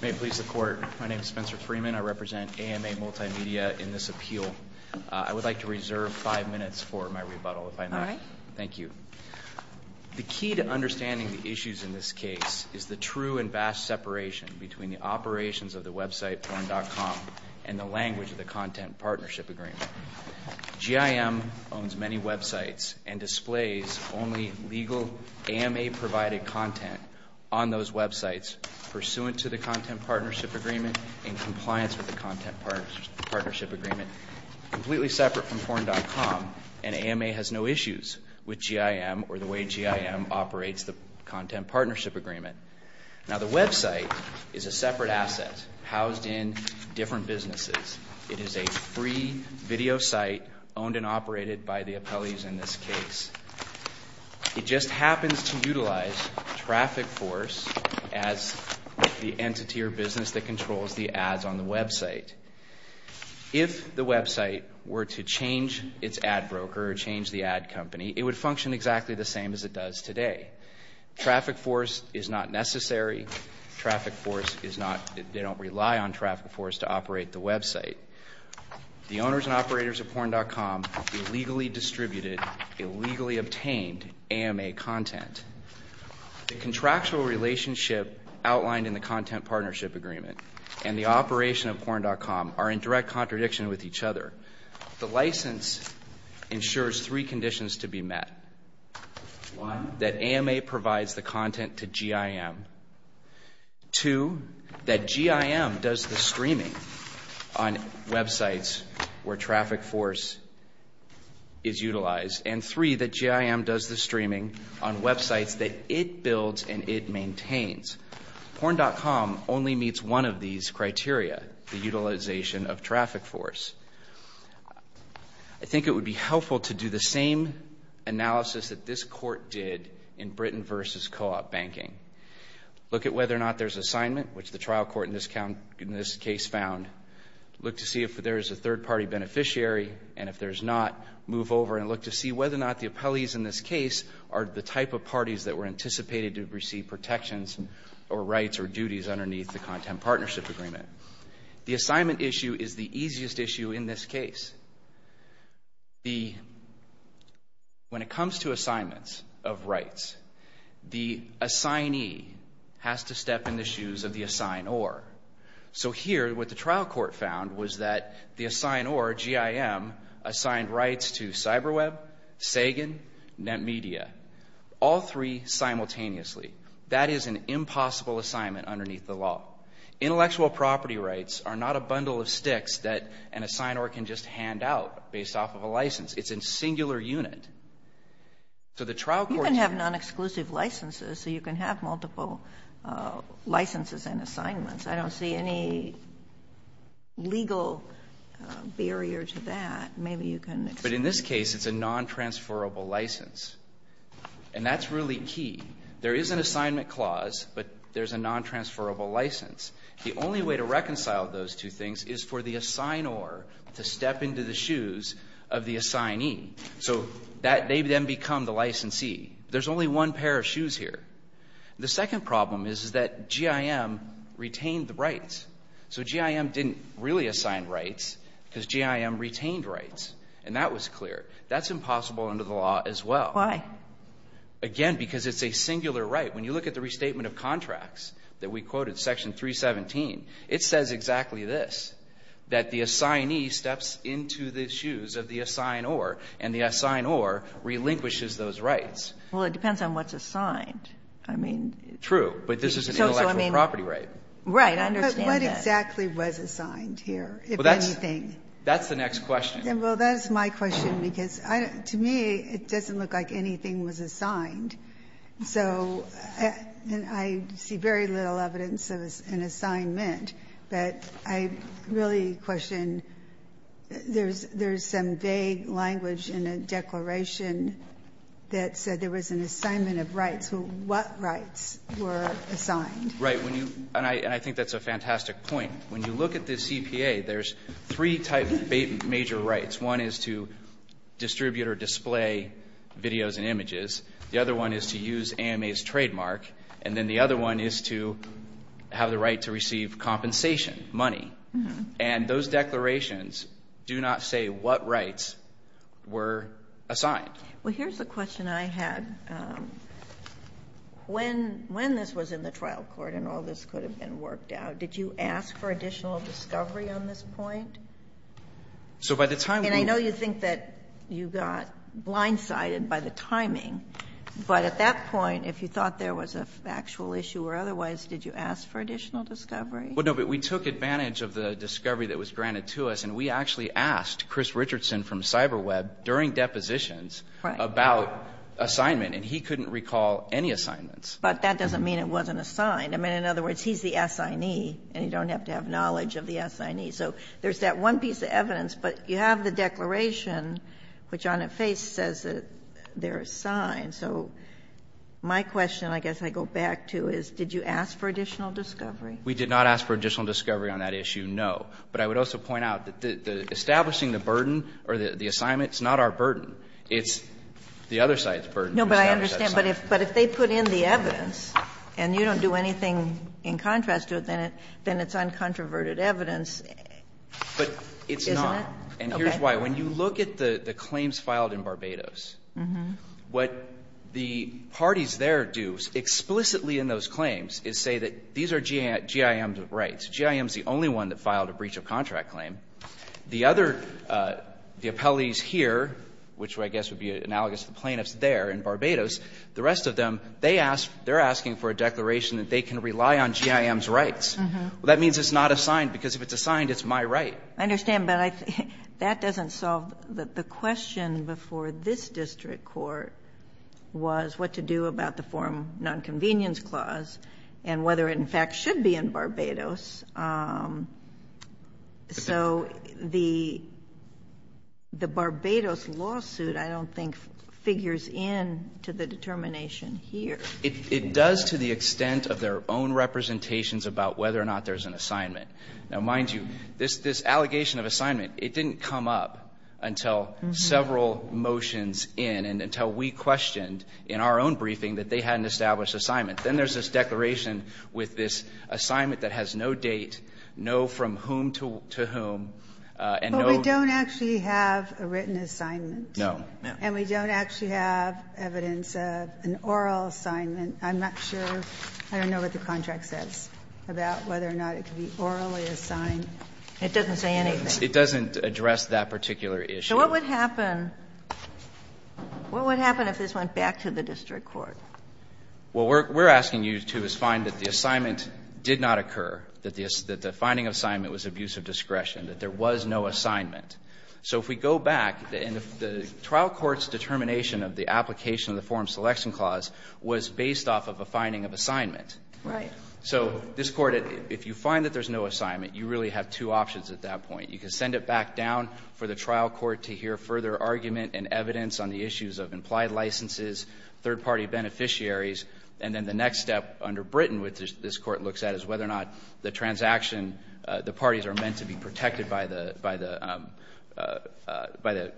May it please the Court. My name is Spencer Freeman. I represent AMA Multimedia in this appeal. I would like to reserve five minutes for my rebuttal, if I may. All right. Thank you. The key to understanding the issues in this case is the true and vast separation between the operations of the website porn.com and the language of the content partnership agreement. GIM owns many websites and displays only legal AMA-provided content on those websites pursuant to the content partnership agreement in compliance with the content partnership agreement, completely separate from porn.com. And AMA has no issues with GIM or the way GIM operates the content partnership agreement. Now, the website is a separate asset housed in different businesses. It is a free video site owned and operated by the appellees in this case. It just happens to utilize Traffic Force as the entity or business that controls the ads on the website. If the website were to change its ad broker or change the ad company, it would function exactly the same as it does today. Traffic Force is not necessary. Traffic Force is not, they don't rely on Traffic Force to operate the website. The owners and operators of porn.com illegally distributed, illegally obtained AMA content. The contractual relationship outlined in the content partnership agreement and the operation of porn.com are in direct contradiction with each other. The license ensures three conditions to be met. One, that AMA provides the content to GIM. Two, that GIM does the streaming on websites where Traffic Force is utilized. And three, that GIM does the streaming on websites that it builds and it maintains. Porn.com only meets one of these criteria, the utilization of Traffic Force. I think it would be helpful to do the same analysis that this court did in Britain versus co-op banking. Look at whether or not there's assignment, which the trial court in this case found. Look to see if there is a third-party beneficiary, and if there's not, move over and look to see whether or not the appellees in this case are the type of parties that were anticipated to receive protections or rights or duties underneath the content partnership agreement. The assignment issue is the easiest issue in this case. When it comes to assignments of rights, the assignee has to step in the shoes of the assignor. So here, what the trial court found was that the assignor, GIM, assigned rights to CyberWeb, Sagan, NetMedia, all three simultaneously. That is an impossible assignment underneath the law. Intellectual property rights are not a bundle of sticks that an assignor can just hand out based off of a license. It's in singular unit. So the trial court's going to have non-exclusive licenses, so you can have multiple licenses and assignments. I don't see any legal barrier to that. Maybe you can explain. But in this case, it's a non-transferable license. And that's really key. There is an assignment clause, but there's a non-transferable license. The only way to reconcile those two things is for the assignor to step into the shoes of the assignee. So they then become the licensee. There's only one pair of shoes here. The second problem is that GIM retained the rights. So GIM didn't really assign rights because GIM retained rights, and that was clear. That's impossible under the law as well. Why? Again, because it's a singular right. When you look at the restatement of contracts that we quoted, Section 317, it says exactly this, that the assignee steps into the shoes of the assignor, and the assignor relinquishes those rights. Well, it depends on what's assigned. I mean so I mean. True. But this is an intellectual property right. Right. I understand that. But what exactly was assigned here, if anything? Well, that's the next question. Well, that's my question, because to me it doesn't look like anything was assigned. So I see very little evidence of an assignment, but I really question, there's some vague language in a declaration that said there was an assignment of rights. What rights were assigned? Right. And I think that's a fantastic point. When you look at this EPA, there's three type of major rights. One is to distribute or display videos and images. The other one is to use AMA's trademark. And then the other one is to have the right to receive compensation, money. And those declarations do not say what rights were assigned. Well, here's the question I had. When this was in the trial court and all this could have been worked out, did you ask for additional discovery on this point? So by the time we were. And I know you think that you got blindsided by the timing. But at that point, if you thought there was a factual issue or otherwise, did you ask for additional discovery? Well, no, but we took advantage of the discovery that was granted to us, and we actually asked Chris Richardson from CyberWeb during depositions about assignment, and he couldn't recall any assignments. But that doesn't mean it wasn't assigned. I mean, in other words, he's the assignee, and you don't have to have knowledge of the assignee. So there's that one piece of evidence. But you have the declaration, which on its face says that they're assigned. So my question, I guess I go back to, is did you ask for additional discovery? We did not ask for additional discovery on that issue, no. But I would also point out that establishing the burden or the assignment is not our burden. It's the other side's burden. No, but I understand. But if they put in the evidence, and you don't do anything in contrast to it, then it's uncontroverted evidence, isn't it? But it's not, and here's why. When you look at the claims filed in Barbados, what the parties there do explicitly in those claims is say that these are GIM's rights. GIM is the only one that filed a breach of contract claim. The other, the appellees here, which I guess would be analogous to the plaintiffs there in Barbados, the rest of them, they're asking for a declaration that they can rely on GIM's rights. Well, that means it's not assigned, because if it's assigned, it's my right. I understand. But that doesn't solve the question before this district court was what to do about the Foreign Nonconvenience Clause and whether it, in fact, should be in Barbados. So the Barbados lawsuit, I don't think, figures in to the determination here. It does to the extent of their own representations about whether or not there's an assignment. Now, mind you, this allegation of assignment, it didn't come up until several motions in and until we questioned in our own briefing that they had an established assignment. Then there's this declaration with this assignment that has no date, no from whom to whom, and no. But we don't actually have a written assignment. No. And we don't actually have evidence of an oral assignment. I'm not sure. I don't know what the contract says about whether or not it can be orally assigned. It doesn't say anything. It doesn't address that particular issue. So what would happen? What would happen if this went back to the district court? Well, we're asking you to find that the assignment did not occur, that the finding of assignment was abuse of discretion, that there was no assignment. So if we go back and the trial court's determination of the application of the form selection clause was based off of a finding of assignment. Right. So this Court, if you find that there's no assignment, you really have two options at that point. You can send it back down for the trial court to hear further argument and evidence on the issues of implied licenses, third-party beneficiaries, and then the next step under Britain, which this Court looks at, is whether or not the transaction, the parties are meant to be protected by the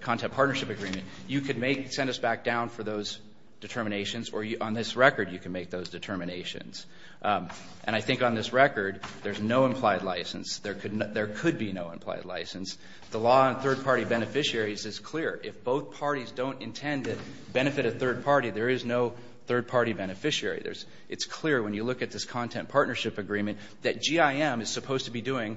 content partnership agreement. You could send us back down for those determinations, or on this record you can make those determinations. And I think on this record there's no implied license. There could be no implied license. The law on third-party beneficiaries is clear. If both parties don't intend to benefit a third party, there is no third-party beneficiary. It's clear when you look at this content partnership agreement that GIM is supposed to be doing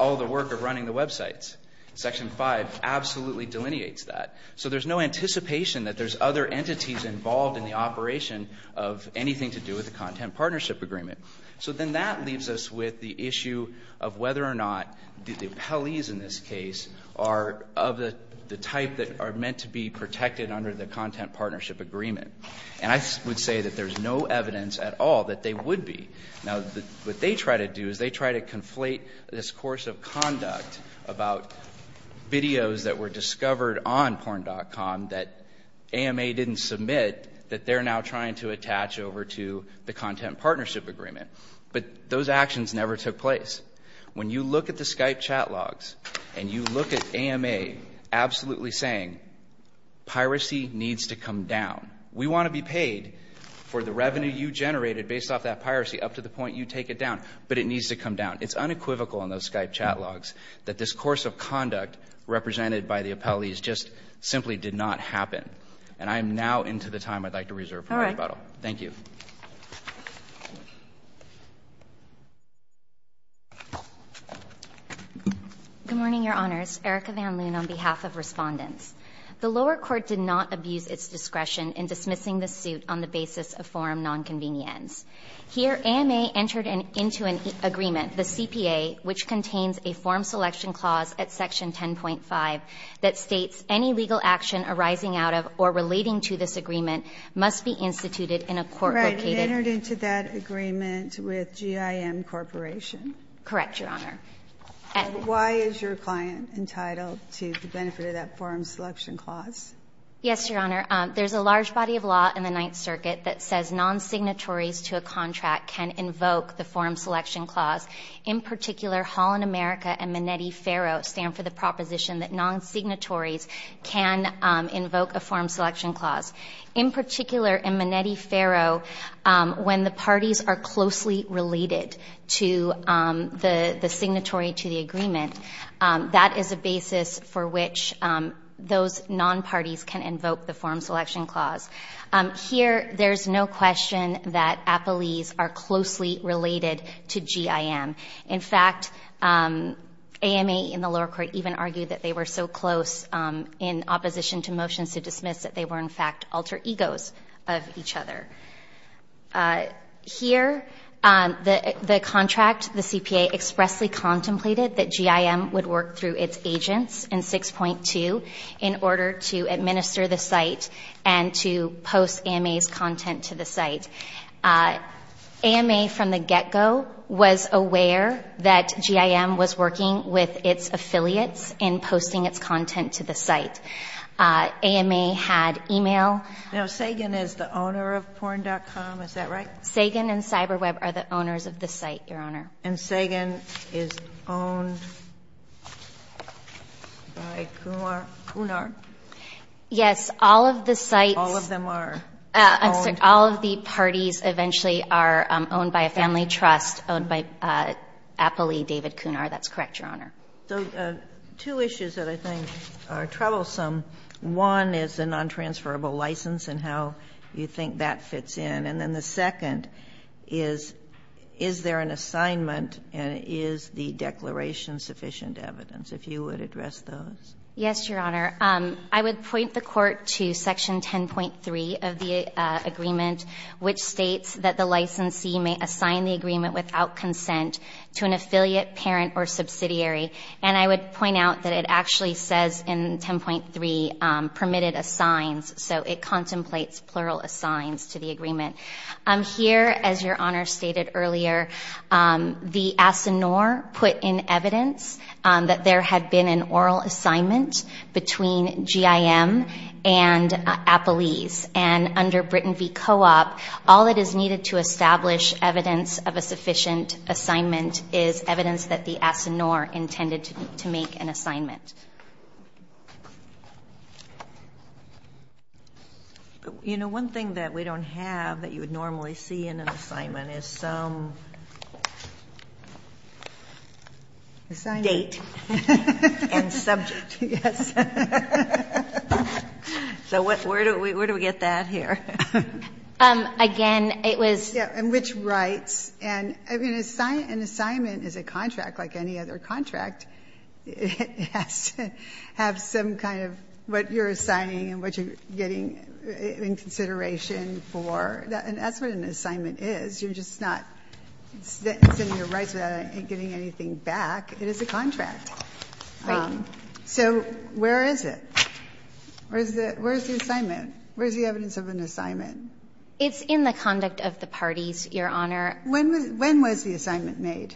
all the work of running the websites. Section 5 absolutely delineates that. So there's no anticipation that there's other entities involved in the operation of anything to do with the content partnership agreement. So then that leaves us with the issue of whether or not the appellees in this case are of the type that are meant to be protected under the content partnership agreement. And I would say that there's no evidence at all that they would be. Now, what they try to do is they try to conflate this course of conduct about videos that were discovered on porn.com that AMA didn't submit that they're now trying to attach over to the content partnership agreement. But those actions never took place. When you look at the Skype chat logs and you look at AMA absolutely saying piracy needs to come down. We want to be paid for the revenue you generated based off that piracy up to the point you take it down, but it needs to come down. It's unequivocal in those Skype chat logs that this course of conduct represented by the appellees just simply did not happen. And I am now into the time I'd like to reserve for my rebuttal. Thank you. Van Loon Good morning, Your Honors. Erica Van Loon on behalf of Respondents. The lower court did not abuse its discretion in dismissing the suit on the basis of forum nonconvenience. Here, AMA entered into an agreement, the CPA, which contains a forum selection clause at section 10.5 that states any legal action arising out of or relating to this agreement must be instituted in a court located. And entered into that agreement with GIM Corporation? Correct, Your Honor. And why is your client entitled to the benefit of that forum selection clause? Yes, Your Honor. There's a large body of law in the Ninth Circuit that says non-signatories to a contract can invoke the forum selection clause. In particular, Holland America and Minetti-Ferro stand for the proposition that non-signatories can invoke a forum selection clause. In particular, in Minetti-Ferro, when the parties are closely related to the signatory to the agreement, that is a basis for which those non-parties can invoke the forum selection clause. Here, there's no question that appellees are closely related to GIM. In fact, AMA in the lower court even argued that they were so close in opposition to motions to dismiss that they were in fact alter egos of each other. Here, the contract, the CPA, expressly contemplated that GIM would work through its agents in 6.2 in order to administer the site and to post AMA's content to the site. AMA from the get-go was aware that GIM was working with its affiliates in posting its content to the site. AMA had e-mail. Now, Sagan is the owner of porn.com, is that right? Sagan and CyberWeb are the owners of the site, Your Honor. And Sagan is owned by Kunar? Yes. All of the sites All of them are owned? I'm sorry. All of the parties eventually are owned by a family trust owned by appellee David Kunar. That's correct, Your Honor. So two issues that I think are troublesome, one is the non-transferable license and how you think that fits in, and then the second is, is there an assignment and is the declaration sufficient evidence? If you would address those. Yes, Your Honor. I would point the Court to section 10.3 of the agreement, which states that the licensee may assign the agreement without consent to an affiliate, parent, or subsidiary. And I would point out that it actually says in 10.3, permitted assigns, so it contemplates plural assigns to the agreement. Here, as Your Honor stated earlier, the ASINOR put in evidence that there had been an oral assignment between GIM and appellees. And under Britton v. Co-op, all that is needed to establish evidence of a sufficient assignment is evidence that the ASINOR intended to make an assignment. You know, one thing that we don't have that you would normally see in an assignment Yes. So where do we get that here? Again, it was Yeah, and which rights, and an assignment is a contract like any other contract. It has to have some kind of what you're assigning and what you're getting in consideration for, and that's what an assignment is. You're just not sending your rights without getting anything back. It is a contract. Right. So where is it? Where's the assignment? Where's the evidence of an assignment? It's in the conduct of the parties, Your Honor. When was the assignment made?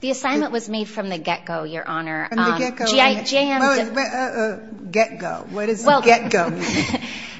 The assignment was made from the get-go, Your Honor. From the get-go. GIM Get-go. What does get-go mean?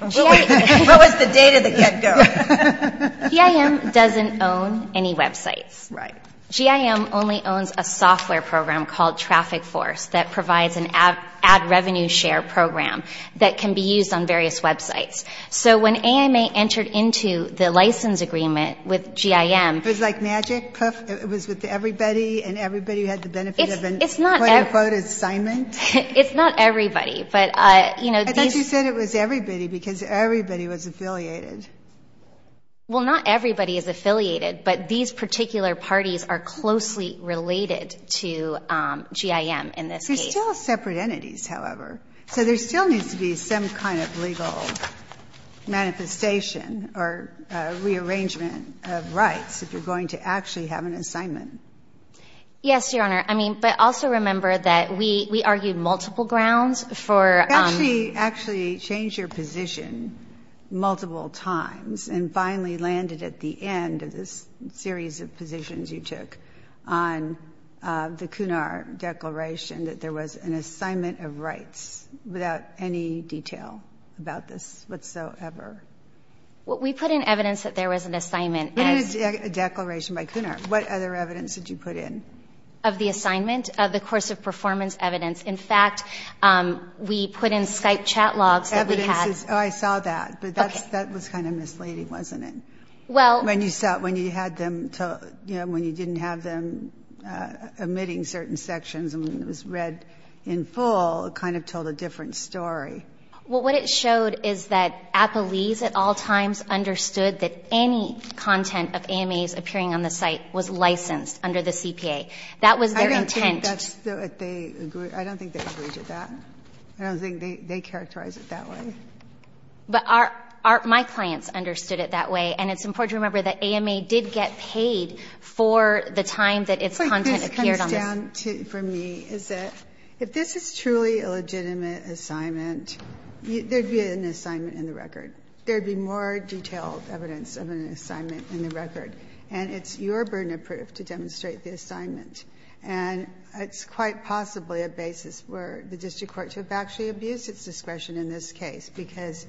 What was the date of the get-go? GIM doesn't own any websites. Right. GIM only owns a software program called Traffic Force that provides an ad revenue share program that can be used on various websites. So when AMA entered into the license agreement with GIM It was like magic? It was with everybody and everybody who had the benefit of an quote-unquote assignment? It's not everybody, but you know I thought you said it was everybody because everybody was affiliated. Well, not everybody is affiliated, but these particular parties are closely related to GIM in this case. They're still separate entities, however. So there still needs to be some kind of legal manifestation or rearrangement of rights if you're going to actually have an assignment. Yes, Your Honor. I mean, but also remember that we argued multiple grounds for You actually changed your position multiple times and finally landed at the end of this series of positions you took on the CUNAR declaration that there was an assignment of rights without any detail about this whatsoever. We put in evidence that there was an assignment. But it's a declaration by CUNAR. What other evidence did you put in? Of the assignment, of the course of performance evidence. In fact, we put in Skype chat logs that we had. Evidence. Oh, I saw that. Okay. But that was kind of misleading, wasn't it? Well. When you didn't have them omitting certain sections and it was read in full, it kind of told a different story. Well, what it showed is that Appleese at all times understood that any content of AMAs appearing on the site was licensed under the CPA. That was their intent. I don't think they agreed to that. I don't think they characterized it that way. But my clients understood it that way. And it's important to remember that AMA did get paid for the time that its content appeared on the site. What this comes down to for me is that if this is truly a legitimate assignment, there would be an assignment in the record. There would be more detailed evidence of an assignment in the record. And it's your burden of proof to demonstrate the assignment. And it's quite possibly a basis for the district court to have actually abused its discretion in this case, because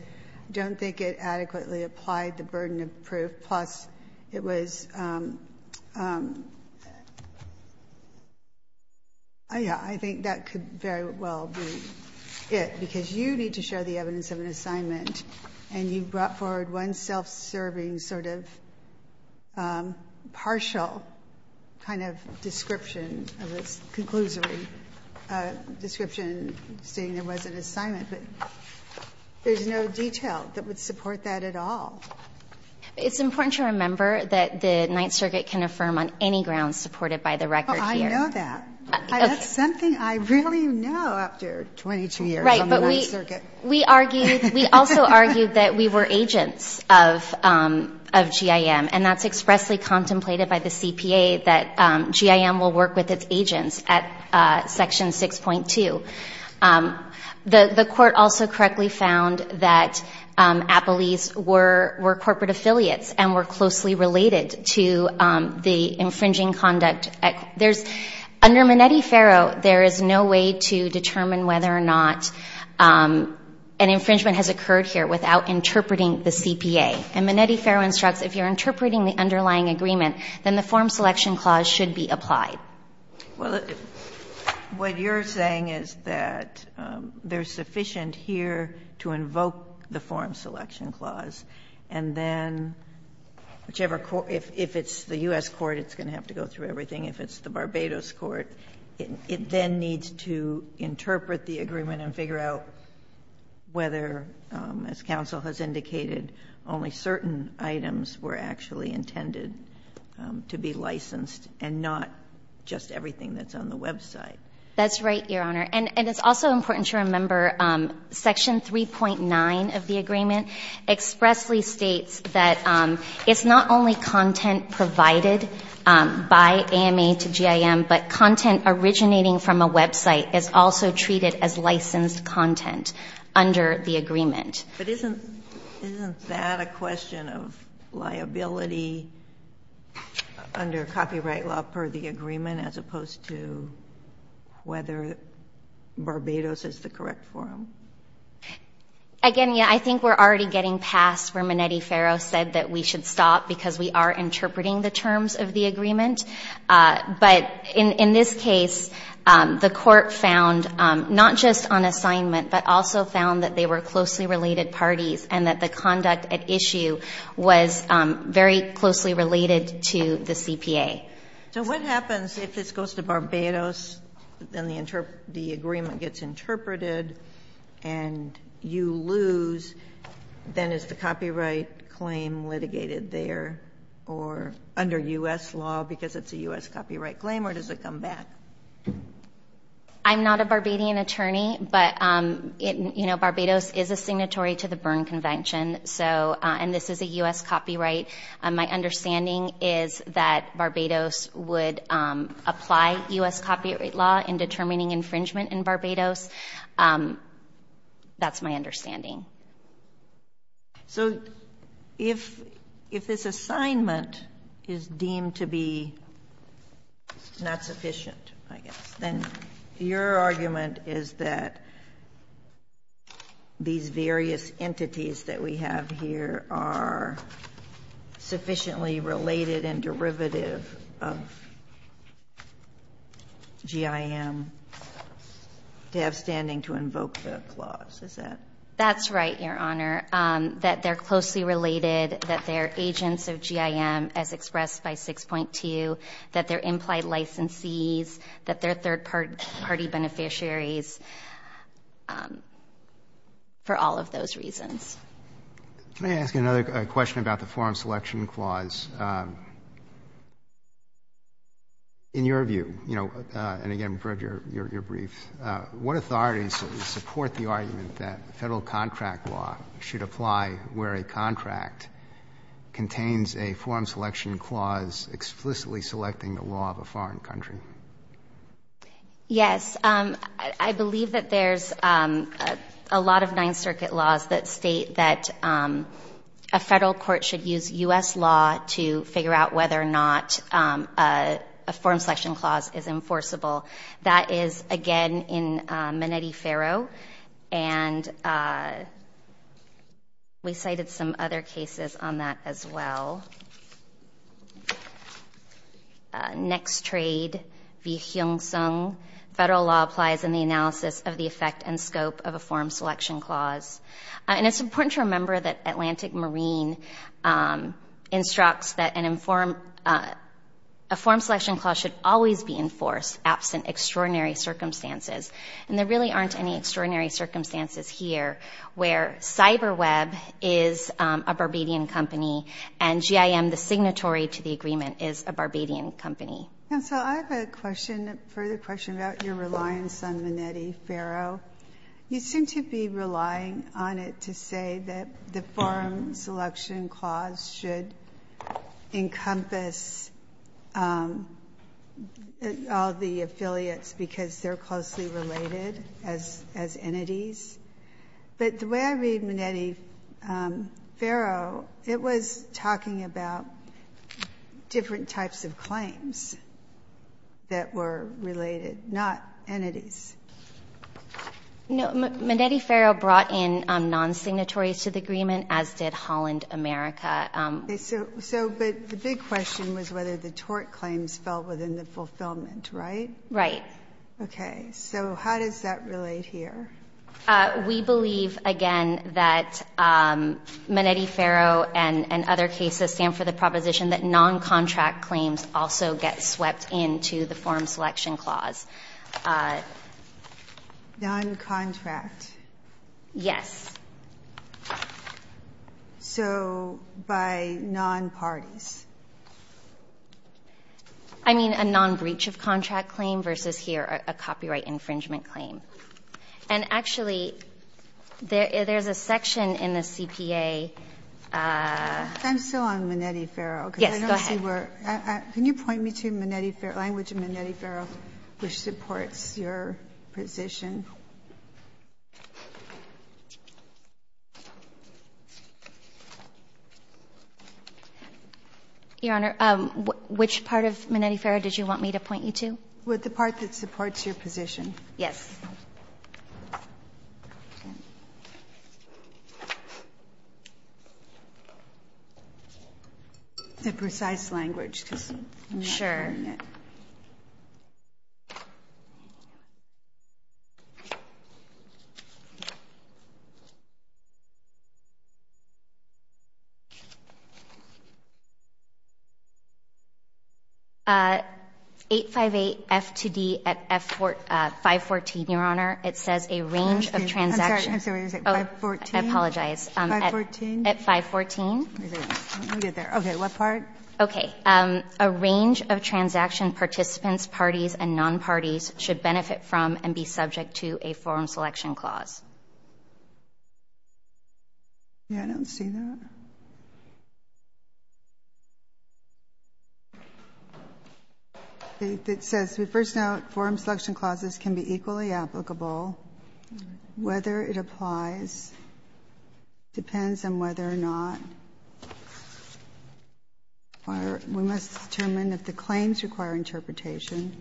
I don't think it adequately applied the burden of proof. Plus, it was — yeah, I think that could very well be it, because you need to show the evidence of an assignment and you brought forward one self-serving sort of partial kind of description of this conclusory description stating there was an assignment. But there's no detail that would support that at all. It's important to remember that the Ninth Circuit can affirm on any grounds supported by the record here. Well, I know that. That's something I really know after 22 years on the Ninth Circuit. Right. But we argued — we also argued that we were agents of GIM, and that's expressly contemplated by the CPA that GIM will work with its agents at Section 6.2. The court also correctly found that Applees were corporate affiliates and were closely related to the infringing conduct. There's — under Minetti-Ferro, there is no way to determine whether or not an infringement has occurred here without interpreting the CPA. And Minetti-Ferro instructs if you're interpreting the underlying agreement, then the form selection clause should be applied. Well, what you're saying is that there's sufficient here to invoke the form selection clause, and then whichever — if it's the U.S. court, it's going to have to go through everything. If it's the Barbados court, it then needs to interpret the agreement and figure out whether, as counsel has indicated, only certain items were actually intended to be licensed and not just everything that's on the website. That's right, Your Honor. And it's also important to remember Section 3.9 of the agreement expressly states that it's not only content provided by AMA to GIM, but content originating from a website is also treated as licensed content under the agreement. But isn't — isn't that a question of liability under copyright law per the agreement as opposed to whether Barbados is the correct form? Again, yeah, I think we're already getting past where Minetti-Ferro said that we should stop because we are interpreting the terms of the agreement. But in this case, the Court found not just on assignment, but also found that they were closely related parties and that the conduct at issue was very closely related to the CPA. So what happens if this goes to Barbados, then the agreement gets interpreted and you lose, then is the copyright claim litigated there or under U.S. law because it's a U.S. copyright claim or does it come back? I'm not a Barbadian attorney, but Barbados is a signatory to the Berne Convention, and this is a U.S. copyright. My understanding is that Barbados would apply U.S. copyright law in determining infringement in Barbados. That's my understanding. So if this assignment is deemed to be not sufficient, I guess, then your argument is that these various entities that we have here are sufficiently related and derivative of GIM to have standing to invoke the clause, is that? That's right, Your Honor, that they're closely related, that they're agents of GIM as expressed by 6.2, that they're implied licensees, that they're third-party beneficiaries, for all of those reasons. Let me ask you another question about the Forum Selection Clause. In your view, you know, and again, for your brief, what authorities support the argument that Federal contract law should apply where a contract contains a Forum Selection Clause explicitly selecting the law of a foreign country? Yes. I believe that there's a lot of Ninth Circuit laws that state that a Federal court should use U.S. law to figure out whether or not a Forum Selection Clause is enforceable. That is, again, in Menetti-Ferro, and we cited some other cases on that as well. Next trade, v. Hyung Sung, Federal law applies in the analysis of the effect and scope of a Forum Selection Clause. And it's important to remember that Atlantic Marine instructs that a Forum Selection Clause should always be enforced absent extraordinary circumstances. And there really aren't any extraordinary circumstances here where CyberWeb is a Barbadian company and GIM, the signatory to the agreement, is a Barbadian company. And so I have a question, a further question about your reliance on Menetti-Ferro. You seem to be relying on it to say that the Forum Selection Clause should encompass all the affiliates because they're closely related as entities. But the way I read Menetti-Ferro, it was talking about different types of claims that were related, not entities. No. Menetti-Ferro brought in non-signatories to the agreement, as did Holland America. Okay. So, but the big question was whether the tort claims fell within the fulfillment, right? Right. Okay. So how does that relate here? We believe, again, that Menetti-Ferro and other cases stand for the proposition that non-contract claims also get swept into the Forum Selection Clause. Non-contract? Yes. So by non-parties? I mean a non-breach-of-contract claim versus here a copyright infringement claim. And actually, there's a section in the CPA. I'm still on Menetti-Ferro. Yes, go ahead. Can you point me to Menetti-Ferro, language of Menetti-Ferro, which supports your position? Your Honor, which part of Menetti-Ferro did you want me to point you to? The part that supports your position. Yes. The precise language, because I'm not hearing it. Sure. 858 F2D at 514, Your Honor. It says a range of transactions. I'm sorry. What did you say? 514? I apologize. 514? At 514. We'll get there. Okay. What part? Okay. A range of transaction participants, parties, and non-parties should benefit from and be subject to a forum selection clause. Yeah, I don't see that. It says, we first note forum selection clauses can be equally applicable whether it applies. Depends on whether or not we must determine if the claims require interpretation.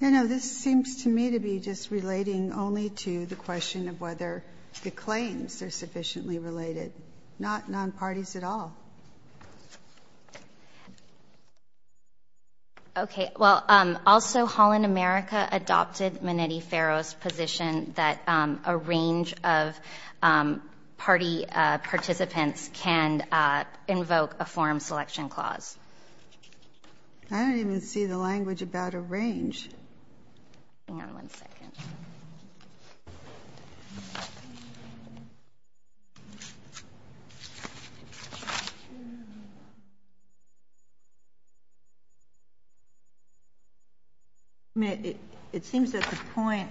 Your Honor, this seems to me to be just relating only to the question of whether the claims are sufficiently related, not non-parties at all. Okay. Well, also Holland America adopted Menetti-Ferro's position that a range of party participants can invoke a forum selection clause. I don't even see the language about a range. Hang on one second. It seems at the point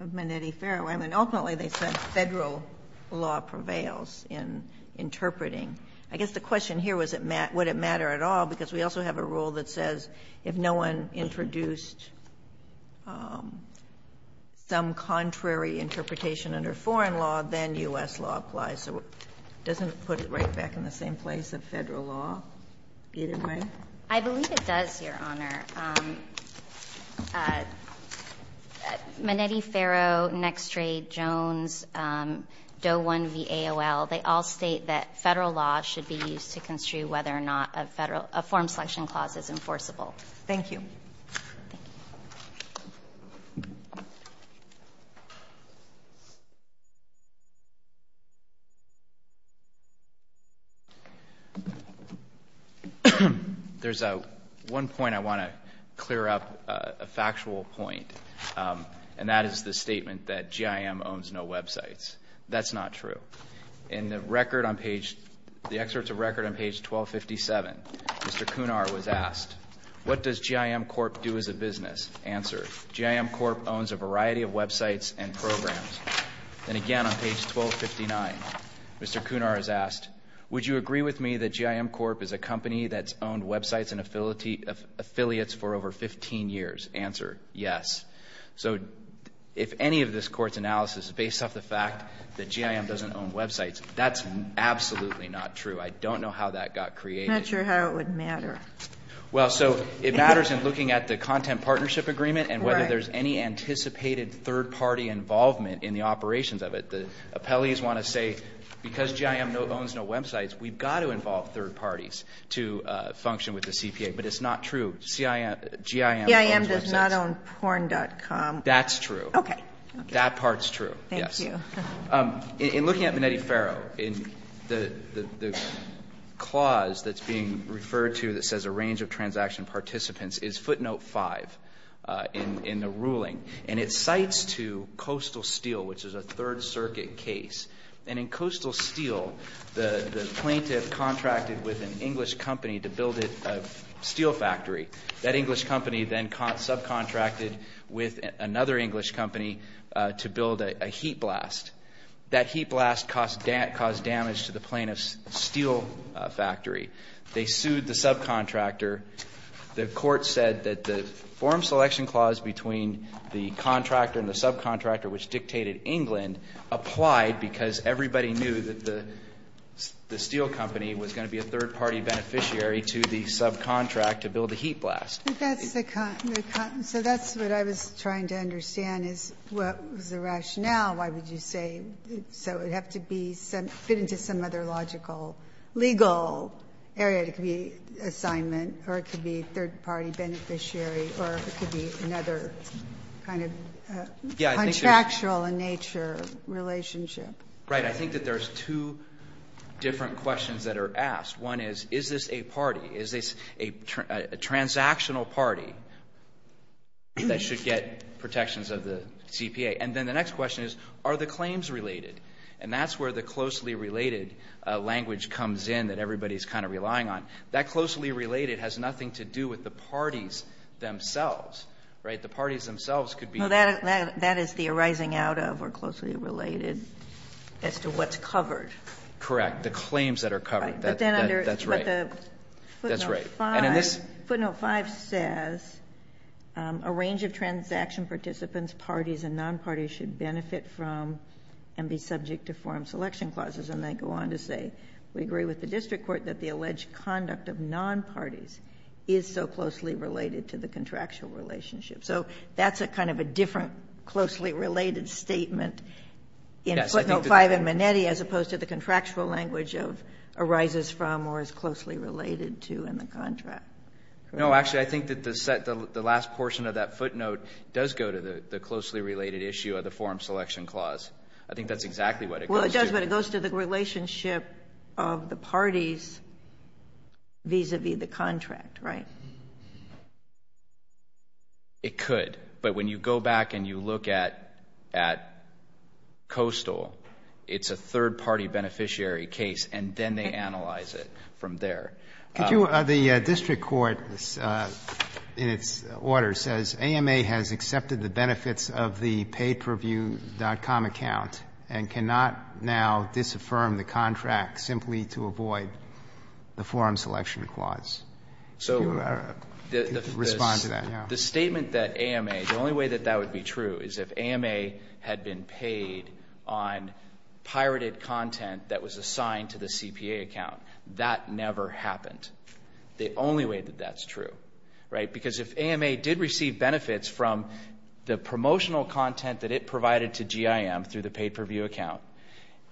of Menetti-Ferro, ultimately they said Federal law prevails in interpreting. I guess the question here was would it matter at all because we also have a clause that says if no one introduced some contrary interpretation under foreign law, then U.S. law applies. So it doesn't put it right back in the same place as Federal law, either way? I believe it does, Your Honor. Menetti-Ferro, Nextrade, Jones, Doe 1 v. AOL, they all state that Federal law should be used to construe whether or not a forum selection clause is enforceable. Thank you. There's one point I want to clear up, a factual point, and that is the statement that GIM owns no websites. That's not true. In the record on page, the excerpts of record on page 1257, Mr. Kunar was asked, what does GIM Corp do as a business? Answer, GIM Corp owns a variety of websites and programs. Then again on page 1259, Mr. Kunar is asked, would you agree with me that GIM Corp is a company that's owned websites and affiliates for over 15 years? Answer, yes. So if any of this Court's analysis is based off the fact that GIM doesn't own websites, that's absolutely not true. I don't know how that got created. I'm not sure how it would matter. Well, so it matters in looking at the content partnership agreement and whether there's any anticipated third party involvement in the operations of it. The appellees want to say because GIM owns no websites, we've got to involve third parties to function with the CPA. But it's not true. GIM owns websites. GIM does not own porn.com. That's true. Okay. That part's true, yes. Thank you. In looking at Venetti-Ferro, the clause that's being referred to that says a range of transaction participants is footnote 5 in the ruling. And it cites to Coastal Steel, which is a Third Circuit case. And in Coastal Steel, the plaintiff contracted with an English company to build a steel factory. That English company then subcontracted with another English company to build a heat blast. That heat blast caused damage to the plaintiff's steel factory. They sued the subcontractor. The court said that the forum selection clause between the contractor and the subcontractor, which dictated England, applied because everybody knew that the steel company was going to be a third party beneficiary to the subcontract to build the heat blast. So that's what I was trying to understand is what was the rationale. Why would you say so it would have to be fit into some other logical legal area. It could be assignment or it could be third party beneficiary or it could be another kind of contractual in nature relationship. Right. I think that there's two different questions that are asked. One is, is this a party? Is this a transactional party that should get protections of the CPA? And then the next question is, are the claims related? And that's where the closely related language comes in that everybody is kind of relying on. That closely related has nothing to do with the parties themselves. Right? The parties themselves could be. That is the arising out of or closely related as to what's covered. Correct. The claims that are covered. That's right. But the footnote 5 says, a range of transaction participants, parties and non-parties should benefit from and be subject to forum selection clauses. And they go on to say, we agree with the district court that the alleged conduct of non-parties is so closely related to the contractual relationship. So that's a kind of a different closely related statement in footnote 5 and Minetti as opposed to the contractual language of arises from or is closely related to in the contract. No. Actually, I think that the last portion of that footnote does go to the closely related issue of the forum selection clause. I think that's exactly what it goes to. Well, it does, but it goes to the relationship of the parties vis-a-vis the contract. Right? It could. But when you go back and you look at Coastal, it's a third-party beneficiary case, and then they analyze it from there. Could you, the district court in its order says, AMA has accepted the benefits of the pay-per-view.com account and cannot now disaffirm the contract simply to avoid the forum selection clause. So. Respond to that. The statement that AMA, the only way that that would be true is if AMA had been paid on pirated content that was assigned to the CPA account. That never happened. The only way that that's true. Right? Because if AMA did receive benefits from the promotional content that it provided to GIM through the pay-per-view account,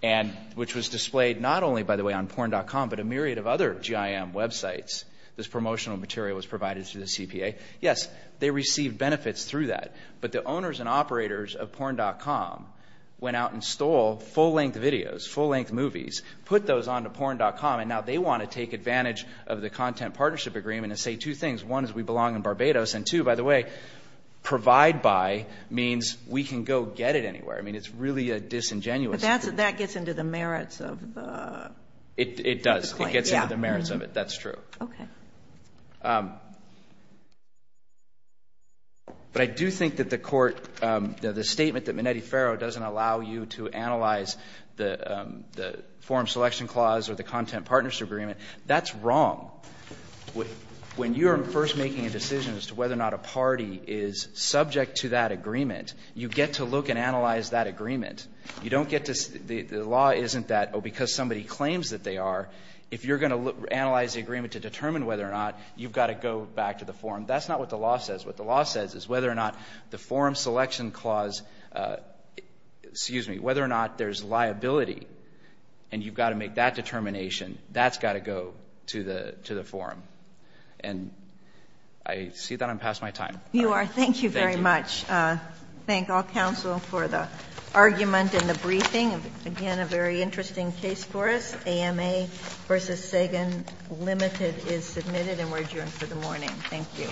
and which was displayed not only, by the way, on porn.com, but a myriad of other GIM websites, this promotional material was provided to the CPA. Yes, they received benefits through that. But the owners and operators of porn.com went out and stole full-length videos, full-length movies, put those onto porn.com, and now they want to take advantage of the content partnership agreement and say two things. One, is we belong in Barbados. And two, by the way, provide by means we can go get it anywhere. I mean, it's really a disingenuous. But that gets into the merits of the claim. It does. It gets into the merits of it. That's true. Okay. But I do think that the Court, the statement that Minetti-Ferro doesn't allow you to analyze the forum selection clause or the content partnership agreement, that's wrong. When you're first making a decision as to whether or not a party is subject to that agreement, you get to look and analyze that agreement. You don't get to, the law isn't that, oh, because somebody claims that they are. If you're going to analyze the agreement to determine whether or not, you've got to go back to the forum. That's not what the law says. What the law says is whether or not the forum selection clause, excuse me, whether or not there's liability and you've got to make that determination, that's got to go to the forum. And I see that I'm past my time. You are. Thank you very much. Thank you. Thank all counsel for the argument and the briefing. Again, a very interesting case for us. AMA v. Sagan Limited is submitted and we're adjourned for the morning. Thank you.